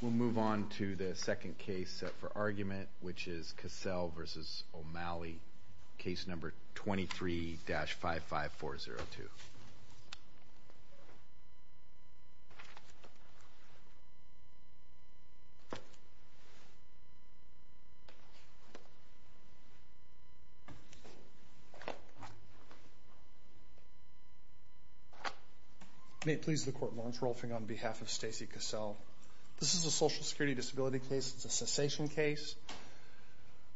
We'll move on to the second case for argument, which is Cassel v. O'Malley, case number 23-55402. May it please the Court, Lawrence Rolfing on behalf of Stacie Cassel. This is a social security disability case. It's a cessation case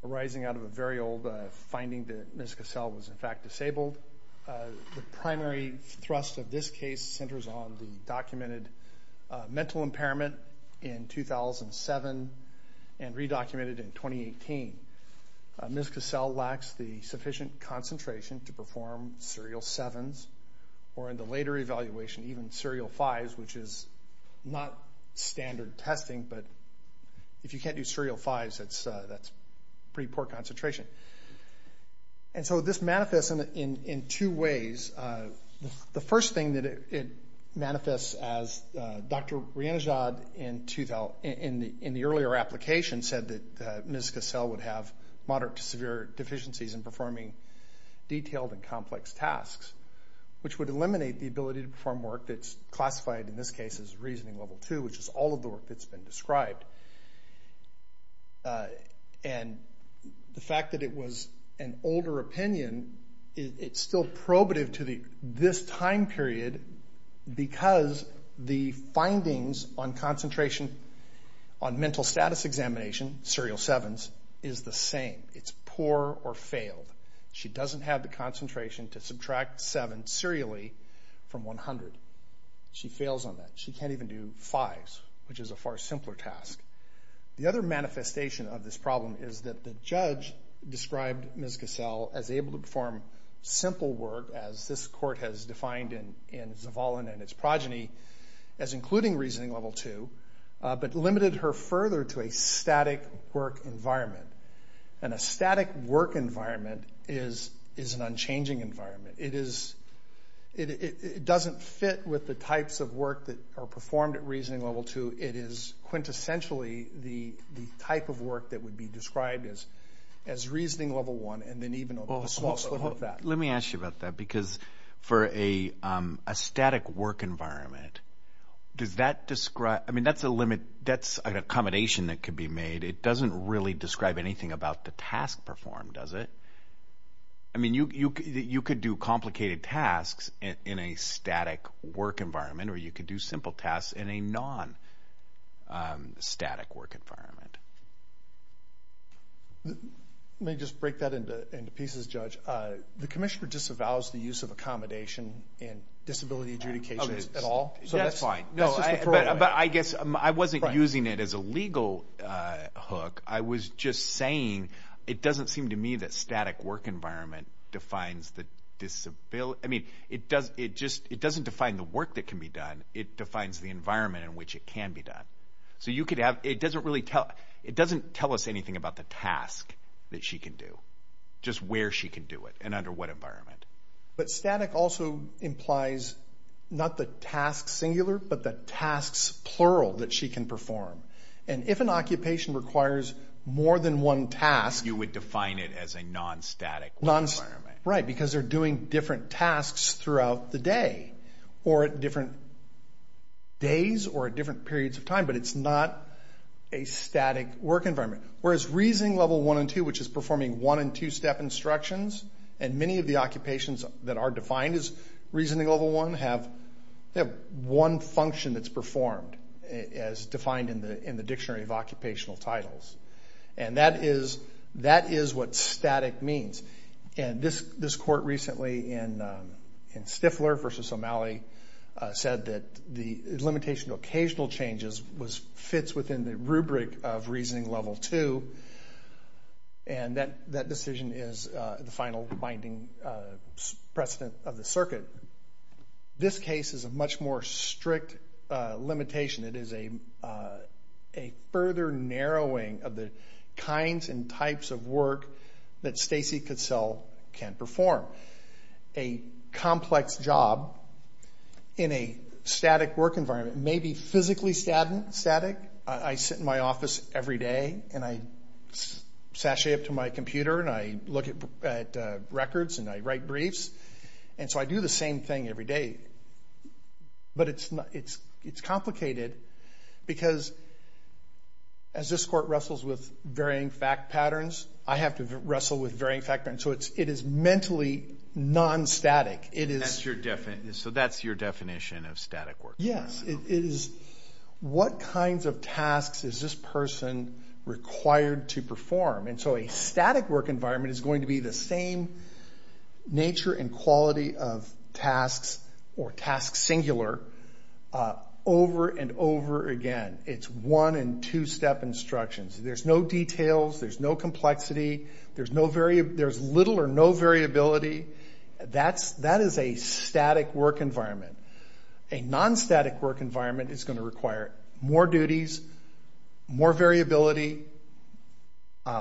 arising out of a very old finding that Ms. Cassel was in fact disabled. The primary thrust of this case centers on the documented mental impairment in 2007 and re-documented in 2018. Ms. Cassel lacks the sufficient concentration to perform serial 7s or in the later evaluation even serial 5s, which is not standard testing, but if you can't do serial 5s that's pretty poor concentration. And so this manifests in two ways. The first thing that it manifests as, Dr. Riyanajad in the earlier application said that Ms. Cassel would have moderate to severe deficiencies in performing detailed and complex tasks, which would eliminate the ability to perform work that's classified in this case as reasoning level 2, which is all of the work that's been described. And the fact that it was an older opinion, it's still probative to this time period because the findings on concentration on mental status examination, serial 7s, is the same. It's poor or failed. She doesn't have the concentration to subtract 7 serially from 100. She fails on that. She can't even do 5s, which is a far simpler task. The other manifestation of this problem is that the judge described Ms. Cassel as able to perform simple work as this court has defined in Zavalin and its progeny as including reasoning level 2, but limited her further to a static work environment. And a static work environment is an unchanging environment. It doesn't fit with the types of work that are performed at reasoning level 2. It is quintessentially the type of work that would be described as reasoning level 1 and then even a small slip of that. Let me ask you about that because for a static work environment, does that describe, I mean that's a limit, that's an accommodation that could be made. It doesn't really describe anything about the task performed, does it? I mean you could do complicated tasks in a static work environment or you could do simple tasks in a non-static work environment. Let me just break that into pieces, Judge. The commissioner disavows the use of accommodation in disability adjudications at all? That's fine. But I guess I wasn't using it as a legal hook, I was just saying it doesn't seem to me that a static work environment defines the disability, I mean it doesn't define the work that can be done, it defines the environment in which it can be done. So you could have, it doesn't really tell, it doesn't tell us anything about the task that she can do, just where she can do it and under what environment. But static also implies not the task singular, but the tasks plural that she can perform. And if an occupation requires more than one task... You would define it as a non-static work environment. Right, because they're doing different tasks throughout the day or at different days or at different periods of time, but it's not a static work environment. Whereas reasoning level one and two, which is performing one and two step instructions, and many of the occupations that are defined as reasoning level one have one function that's performed as defined in the dictionary of occupational titles. And that is, that is what static means. And this court recently in Stifler versus O'Malley said that the limitation to occasional changes was, fits within the rubric of reasoning level two. And that decision is the final binding precedent of the circuit. But this case is a much more strict limitation. It is a further narrowing of the kinds and types of work that Stacy Cassell can perform. A complex job in a static work environment may be physically static. I sit in my office every day and I sashay up to my computer and I look at records and I write briefs. And so I do the same thing every day. But it's not, it's complicated because as this court wrestles with varying fact patterns, I have to wrestle with varying fact patterns. So it is mentally non-static. It is... And that's your definition, so that's your definition of static work? Yes. It is what kinds of tasks is this person required to perform? And so a static work environment is going to be the same nature and quality of tasks or tasks singular over and over again. It's one and two step instructions. There's no details, there's no complexity, there's little or no variability. That is a static work environment. A non-static work environment is going to require more duties, more variability,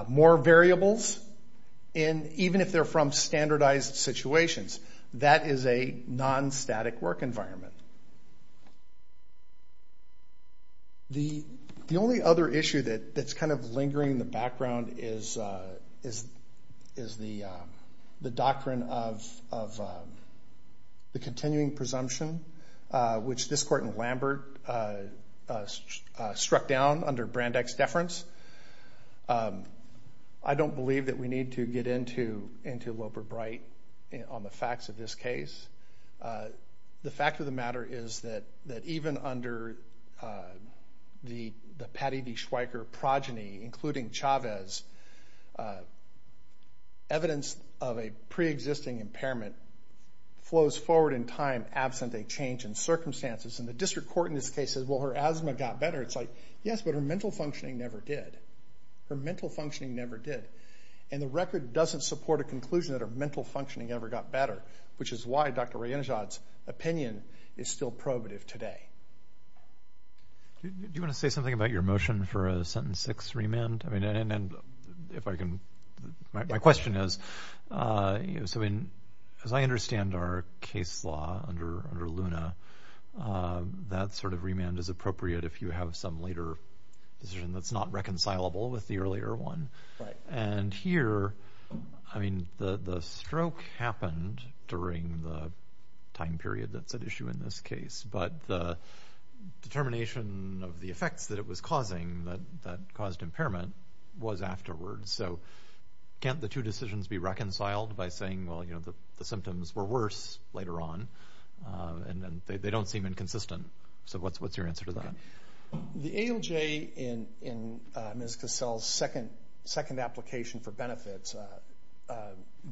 more variables, and even if they're from standardized situations, that is a non-static work environment. The only other issue that's kind of lingering in the background is the doctrine of the continuing presumption, which this court in Lambert struck down under Brandeck's deference. I don't believe that we need to get into Loper-Bright on the facts of this case. The fact of the matter is that even under the Patty D. Schweiker progeny, including Chavez, evidence of a pre-existing impairment flows forward in time absent a change in circumstances. And the district court in this case says, well, her asthma got better. It's like, yes, but her mental functioning never did. Her mental functioning never did. And the record doesn't support a conclusion that her mental functioning ever got better, which is why Dr. Rayenjad's opinion is still probative today. Do you want to say something about your motion for a sentence six remand? And if I can, my question is, as I understand our case law under Luna, that sort of remand is appropriate if you have some later decision that's not reconcilable with the earlier one. And here, I mean, the stroke happened during the time period that's at issue in this case, but the determination of the effects that it was causing that caused impairment was afterwards. So can't the two decisions be reconciled by saying, well, you know, the symptoms were worse later on, and they don't seem inconsistent. So what's your answer to that? The ALJ in Ms. Cassell's second application for benefits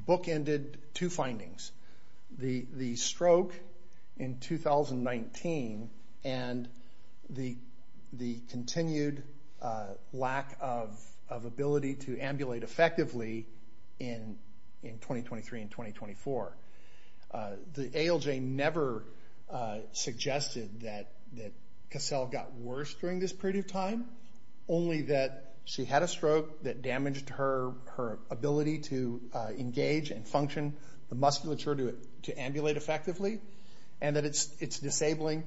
bookended two findings. The stroke in 2019 and the continued lack of ability to ambulate effectively in 2023 and 2024. The ALJ never suggested that Cassell got worse during this period of time, only that she had a stroke that damaged her ability to engage and function, the musculature to ambulate effectively, and that it's disabling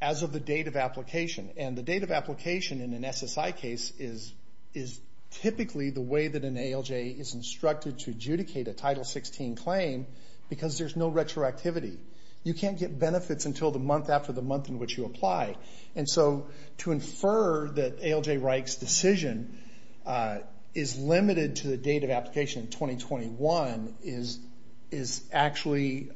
as of the date of application. And the date of application in an SSI case is typically the way that an ALJ is instructed to adjudicate a Title 16 claim because there's no retroactivity. You can't get benefits until the month after the month in which you apply. And so to infer that ALJ Reich's decision is limited to the date of application in 2021 is actually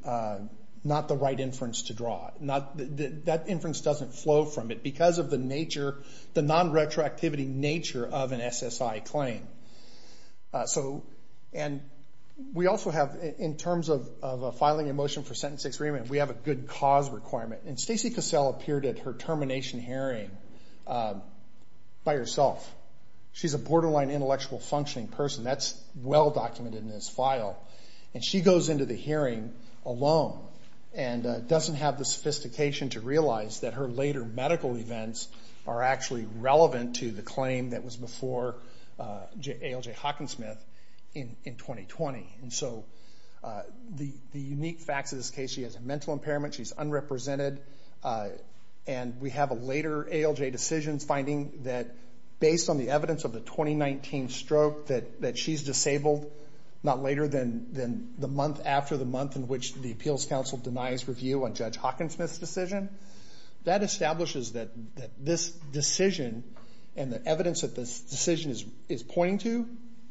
not the right inference to draw. That inference doesn't flow from it because of the nature, the non-retroactivity nature of an SSI claim. And we also have, in terms of filing a motion for sentence experiment, we have a good cause requirement. And Stacey Cassell appeared at her termination hearing by herself. She's a borderline intellectual functioning person. That's well documented in this file. And she goes into the hearing alone and doesn't have the sophistication to realize that her later medical events are actually relevant to the claim that was before ALJ Hockensmith in 2020. And so the unique facts of this case, she has a mental impairment, she's unrepresented, and we have a later ALJ decision finding that based on the evidence of the 2019 stroke that she's disabled not later than the month after the month in which the appeals counsel denies review on Judge Hockensmith's decision. That establishes that this decision and the evidence that this decision is pointing to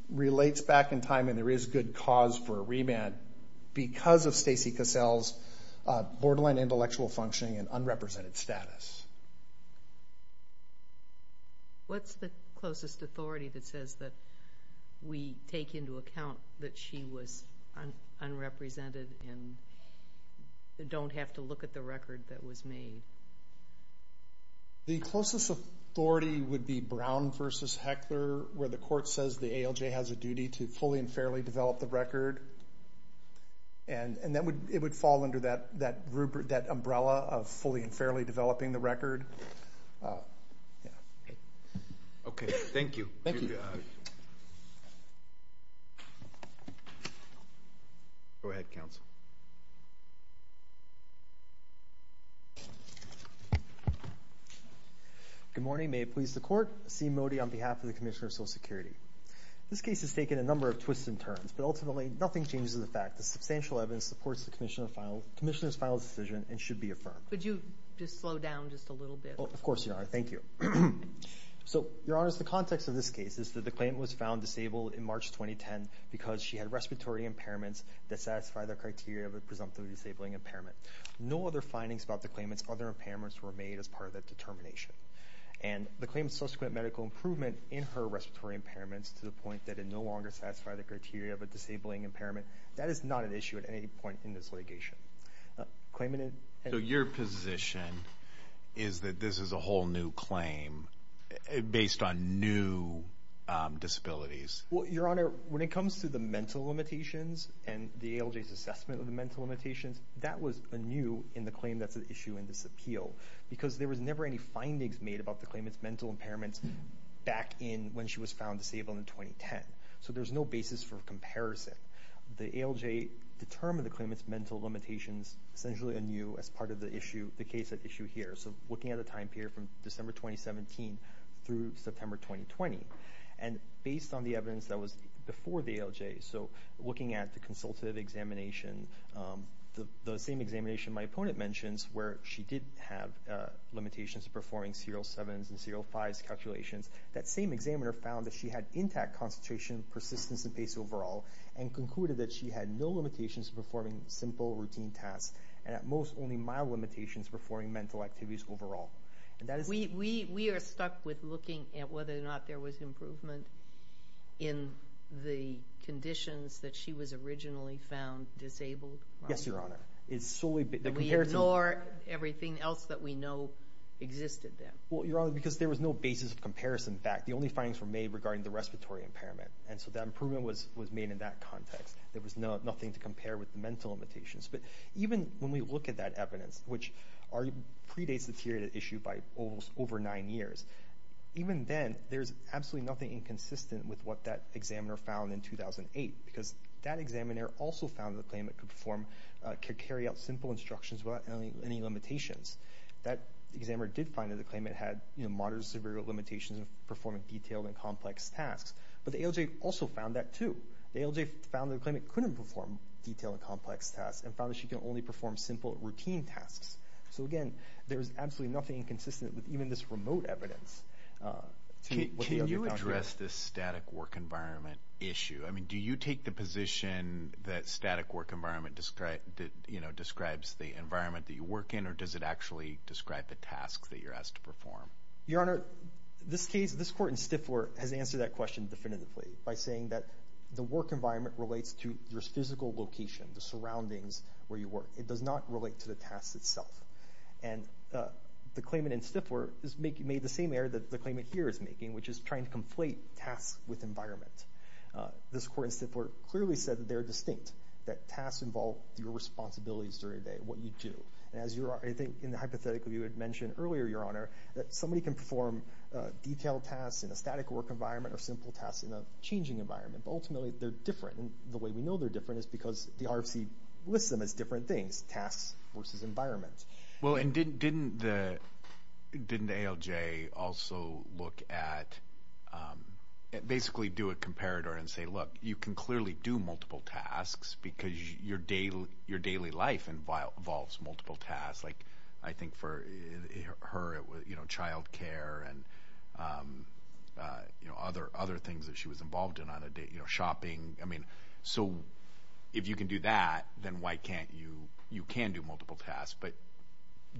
relates back in time and there is good cause for a remand because of Stacey Cassell's borderline intellectual functioning and unrepresented status. What's the closest authority that says that we take into account that she was unrepresented and don't have to look at the record that was made? The closest authority would be Brown versus Heckler where the court says the ALJ has a duty to fully and fairly develop the record. And it would fall under that umbrella of fully and fairly developing the record. Yeah. Okay. Thank you. Go ahead, counsel. Good morning. May it please the court. C. Mody on behalf of the Commissioner of Social Security. This case has taken a number of twists and turns, but ultimately nothing changes the fact that substantial evidence supports the Commissioner's final decision and should be affirmed. Could you just slow down just a little bit? Of course, Your Honor. Thank you. So, Your Honors, the context of this case is that the claimant was found disabled in March 2010 because she had respiratory impairments that satisfy the criteria of a presumptively disabling impairment. No other findings about the claimant's other impairments were made as part of that determination. And the claimant's subsequent medical improvement in her respiratory impairments to the point that it no longer satisfied the criteria of a disabling impairment, that is not an issue at any point in this litigation. Your position is that this is a whole new claim based on new disabilities? Well, Your Honor, when it comes to the mental limitations and the ALJ's assessment of the mental limitations, that was anew in the claim that's at issue in this appeal. Because there was never any findings made about the claimant's mental impairments back in when she was found disabled in 2010. So there's no basis for comparison. The ALJ determined the claimant's mental limitations essentially anew as part of the case at issue here. So looking at the time period from December 2017 through September 2020. And based on the evidence that was before the ALJ, so looking at the consultative examination, the same examination my opponent mentions where she did have limitations performing serial sevens and serial fives calculations. That same examiner found that she had intact concentration, persistence, and pace overall and concluded that she had no limitations performing simple routine tasks and at most only mild limitations performing mental activities overall. We are stuck with looking at whether or not there was improvement in the conditions that she was originally found disabled. Yes, Your Honor. It's solely... That we ignore everything else that we know existed then. Well, Your Honor, because there was no basis of comparison fact. The only findings were made regarding the respiratory impairment. And so that improvement was made in that context. There was nothing to compare with the mental limitations. But even when we look at that evidence, which already predates the period at issue by almost over nine years, even then there's absolutely nothing inconsistent with what that examiner found in 2008. Because that examiner also found that the claimant could perform, could carry out simple instructions without any limitations. That examiner did find that the claimant had, you know, moderate to severe limitations in performing detailed and complex tasks. But the ALJ also found that too. The ALJ found that the claimant couldn't perform detailed and complex tasks and found that she can only perform simple routine tasks. So again, there's absolutely nothing inconsistent with even this remote evidence. Can you address this static work environment issue? I mean, do you take the position that static work environment describes the environment that you work in, or does it actually describe the tasks that you're asked to perform? Your Honor, this case, this court in Stifler has answered that question definitively by saying that the work environment relates to your physical location, the surroundings where you work. It does not relate to the task itself. And the claimant in Stifler made the same error that the claimant here is making, which is trying to conflate tasks with environment. This court in Stifler clearly said that they're distinct, that tasks involve your responsibilities during the day, what you do. And as you are, I think, in the hypothetical you had mentioned earlier, Your Honor, that somebody can perform detailed tasks in a static work environment or simple tasks in a changing environment. But ultimately, they're different. And the way we know they're different is because the RFC lists them as different things, tasks versus environment. Well, and didn't ALJ also look at, basically do a comparator and say, look, you can clearly do multiple tasks because your daily life involves multiple tasks. Like, I think for her, it was, you know, child care and, you know, other things that she was involved in on a day, you know, shopping. I mean, so if you can do that, then why can't you, you can do multiple tasks, but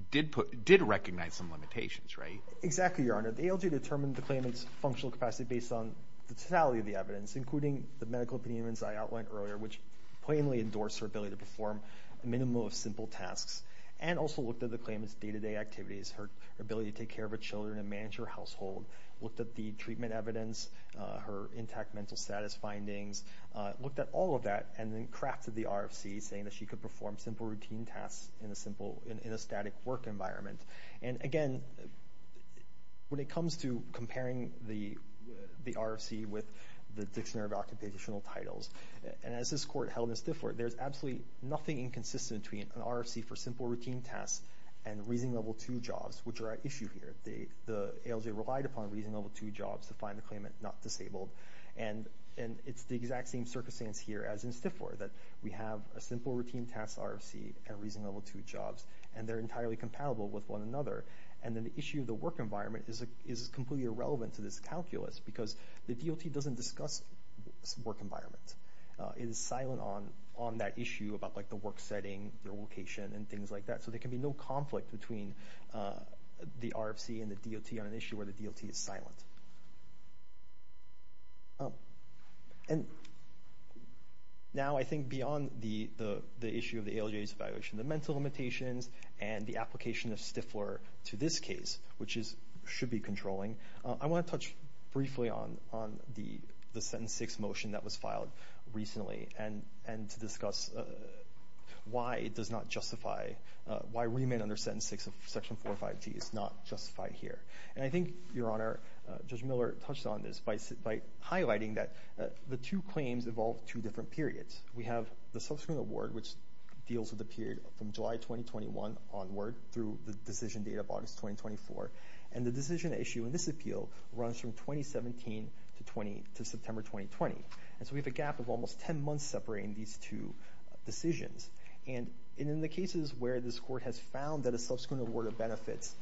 did recognize some limitations, right? Exactly, Your Honor. The ALJ determined the claimant's functional capacity based on the totality of the evidence, including the medical opinions I outlined earlier, which plainly endorsed her ability to perform a minimum of simple tasks. And also looked at the claimant's day-to-day activities, her ability to take care of her children and manage her household, looked at the treatment evidence, her intact mental status findings, looked at all of that, and then crafted the RFC saying that she could perform simple routine tasks in a simple, in a static work environment. And again, when it comes to comparing the RFC with the Dictionary of Occupational Titles, and as this Court held in Stifler, there's absolutely nothing inconsistent between an RFC for simple routine tasks and Reasoning Level 2 jobs, which are at issue here. The ALJ relied upon Reasoning Level 2 jobs to find the claimant not disabled, and it's the exact same circumstance here as in Stifler, that we have a simple routine task RFC and Reasoning Level 2 jobs, and they're entirely compatible with one another. And then the issue of the work environment is completely irrelevant to this calculus, because the DLT doesn't discuss work environments. It is silent on that issue about the work setting, their location, and things like that. So there can be no conflict between the RFC and the DLT on an issue where the DLT is silent. And now I think beyond the issue of the ALJ's evaluation, the mental limitations and the application of Stifler to this case, which should be controlling, I want to touch briefly on the Sentence 6 motion that was filed recently, and to discuss why it does not justify, why remand under Sentence 6 of Section 405G is not justified here. And I think, Your Honor, Judge Miller touched on this by highlighting that the two claims involve two different periods. We have the subsequent award, which deals with the period from July 2021 onward through the decision date of August 2024. And the decision issue in this appeal runs from 2017 to September 2020. And so we have a gap of almost 10 months separating these two decisions. And in the cases where this Court has found that a subsequent award of benefits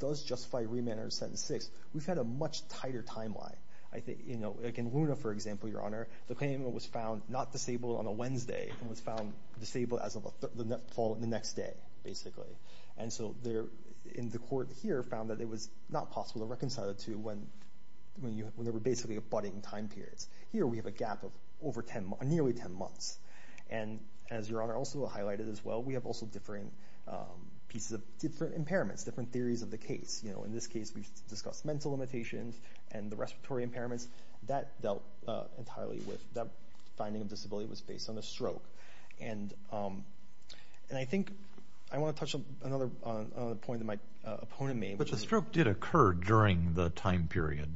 does justify remand under Sentence 6, we've had a much tighter timeline. Like in Luna, for example, Your Honor, the claimant was found not disabled on a Wednesday and was found disabled as of the next day, basically. And so the Court here found that it was not possible to reconcile the two when they were basically abutting time periods. Here we have a gap of nearly 10 months. And as Your Honor also highlighted as well, we have also different pieces of, different impairments, different theories of the case. In this case, we've discussed mental limitations and the respiratory impairments. That dealt entirely with, that finding of disability was based on a stroke. And I think I want to touch on another point that my opponent made. But the stroke did occur during the time period.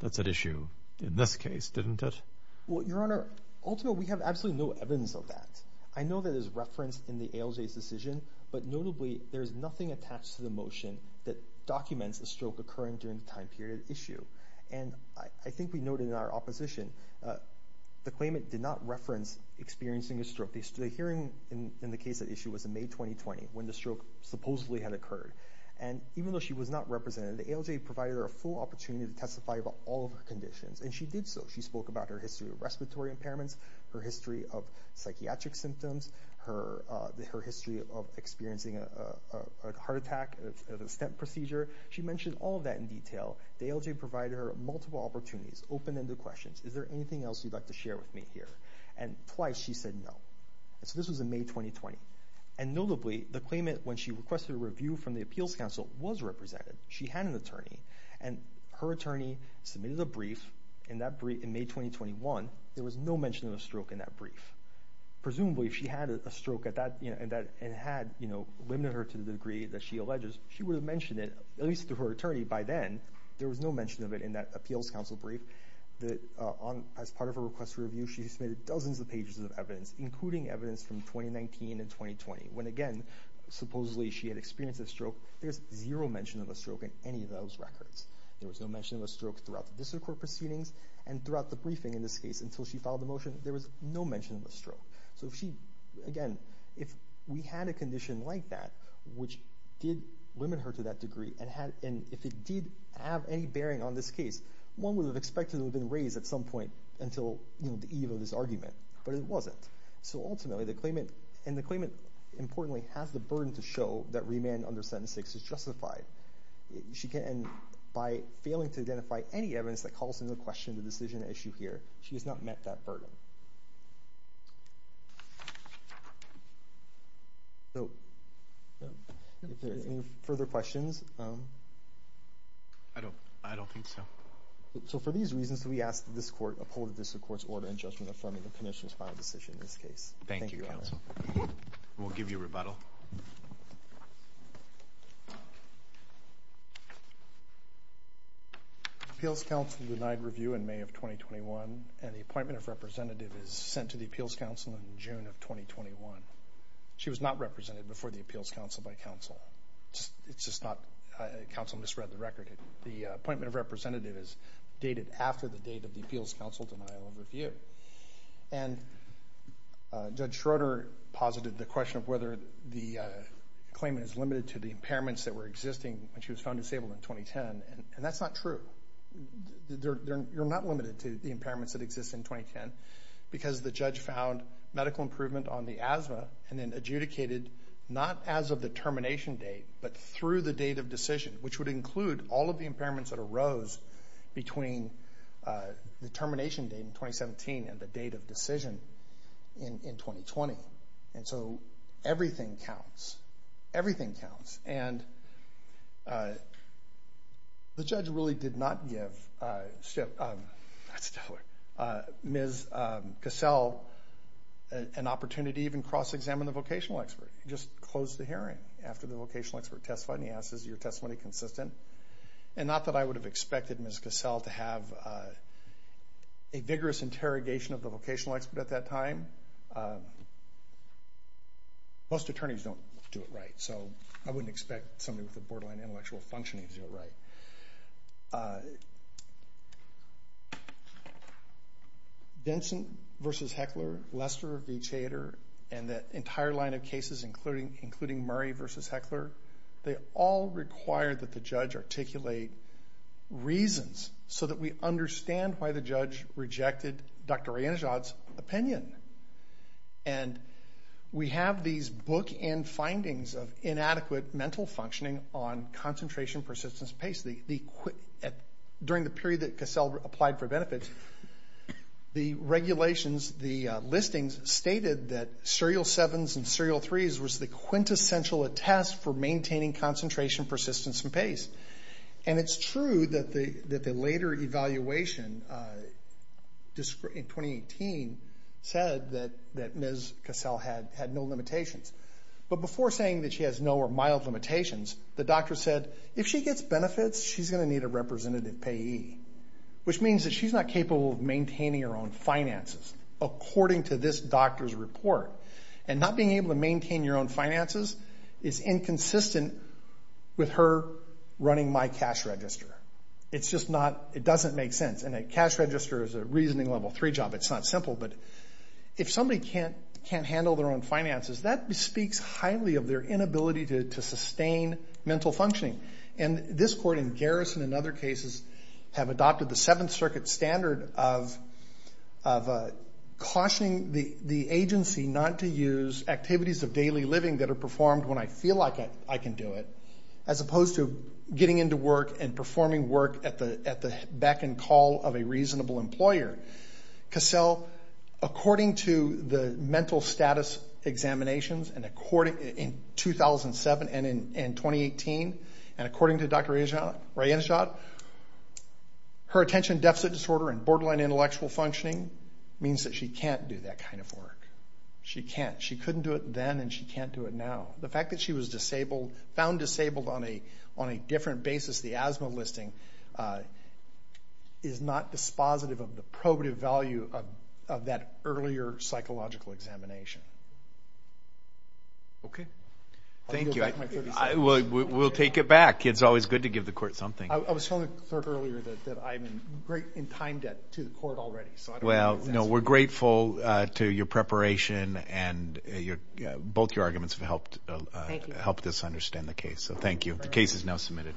That's at issue in this case, didn't it? Well, Your Honor, ultimately we have absolutely no evidence of that. I know that there's reference in the ALJ's decision, but notably there's nothing attached to the motion that documents a stroke occurring during the time period issue. And I think we noted in our opposition, the claimant did not reference experiencing a The hearing in the case at issue was in May 2020, when the stroke supposedly had occurred. And even though she was not represented, the ALJ provided her a full opportunity to testify about all of her conditions. And she did so. She spoke about her history of respiratory impairments, her history of psychiatric symptoms, her history of experiencing a heart attack, a stent procedure. She mentioned all of that in detail. The ALJ provided her multiple opportunities, open-ended questions. Is there anything else you'd like to share with me here? And twice she said no. And so this was in May 2020. And notably, the claimant, when she requested a review from the Appeals Council, was represented. She had an attorney. And her attorney submitted a brief in May 2021. There was no mention of a stroke in that brief. Presumably if she had a stroke and had limited her to the degree that she alleges, she would mention it, at least to her attorney by then. There was no mention of it in that Appeals Council brief. As part of her request for review, she submitted dozens of pages of evidence, including evidence from 2019 and 2020. When again, supposedly she had experienced a stroke, there's zero mention of a stroke in any of those records. There was no mention of a stroke throughout the district court proceedings and throughout the briefing in this case until she filed the motion. There was no mention of a stroke. So if she, again, if we had a condition like that, which did limit her to that degree and if it did have any bearing on this case, one would have expected it would have been raised at some point until the eve of this argument, but it wasn't. So ultimately the claimant, and the claimant importantly has the burden to show that remand under Sentence 6 is justified. She can, by failing to identify any evidence that calls into question the decision at issue here, she has not met that burden. So, if there's any further questions. I don't, I don't think so. So for these reasons, we ask that this court uphold this court's order in judgment affirming the conditions by decision in this case. Thank you counsel. We'll give you rebuttal. Appeals Council denied review in May of 2021 and the appointment of representative is sent to the Appeals Council in June of 2021. She was not represented before the Appeals Council by counsel. It's just not, counsel misread the record. The appointment of representative is dated after the date of the Appeals Council denial of review. And Judge Schroeder posited the question of whether the claimant is limited to the impairments that were existing when she was found disabled in 2010, and that's not true. You're not limited to the impairments that exist in 2010 because the judge found medical improvement on the asthma and then adjudicated not as of the termination date, but through the date of decision, which would include all of the impairments that arose between the termination date in 2017 and the date of decision in 2020. And so everything counts. Everything counts. And the judge really did not give Ms. Cassell an opportunity to even cross-examine the vocational expert. He just closed the hearing after the vocational expert testified and he asked, is your testimony consistent? And not that I would have expected Ms. Cassell to have a vigorous interrogation of the vocational expert at that time. Most attorneys don't do it right, so I wouldn't expect somebody with a borderline intellectual functioning to do it right. Denson v. Heckler, Lester v. Chader, and the entire line of cases, including Murray v. Heckler, they all require that the judge articulate reasons so that we understand why the judge rejected Dr. Reynajad's opinion. And we have these bookend findings of inadequate mental functioning on concentration persistence pace. During the period that Cassell applied for benefits, the regulations, the listings stated that serial 7s and serial 3s was the quintessential attest for maintaining concentration persistence and pace. And it's true that the later evaluation in 2018 said that Ms. Cassell had no limitations. But before saying that she has no or mild limitations, the doctor said, if she gets benefits, she's going to need a representative payee, which means that she's not capable of maintaining her own finances. According to this doctor's report. And not being able to maintain your own finances is inconsistent with her running my cash register. It's just not, it doesn't make sense. And a cash register is a reasoning level 3 job. It's not simple. But if somebody can't handle their own finances, that speaks highly of their inability to sustain mental functioning. And this court in Garrison and other cases have adopted the Seventh Circuit standard of cautioning the agency not to use activities of daily living that are performed when I feel like I can do it, as opposed to getting into work and performing work at the beck and call of a reasonable employer. Cassell, according to the mental status examinations in 2007 and in 2018, and according to Dr. Rajenishad, her attention deficit disorder and borderline intellectual functioning means that she can't do that kind of work. She can't. She couldn't do it then and she can't do it now. The fact that she was disabled, found disabled on a different basis, the asthma listing, is not dispositive of the probative value of that earlier psychological examination. Thank you. I'll yield back my 30 seconds. We'll take it back. It's always good to give the court something. I was told earlier that I'm in time debt to the court already. Well, we're grateful to your preparation and both your arguments have helped us understand the case. So thank you. The case is now submitted.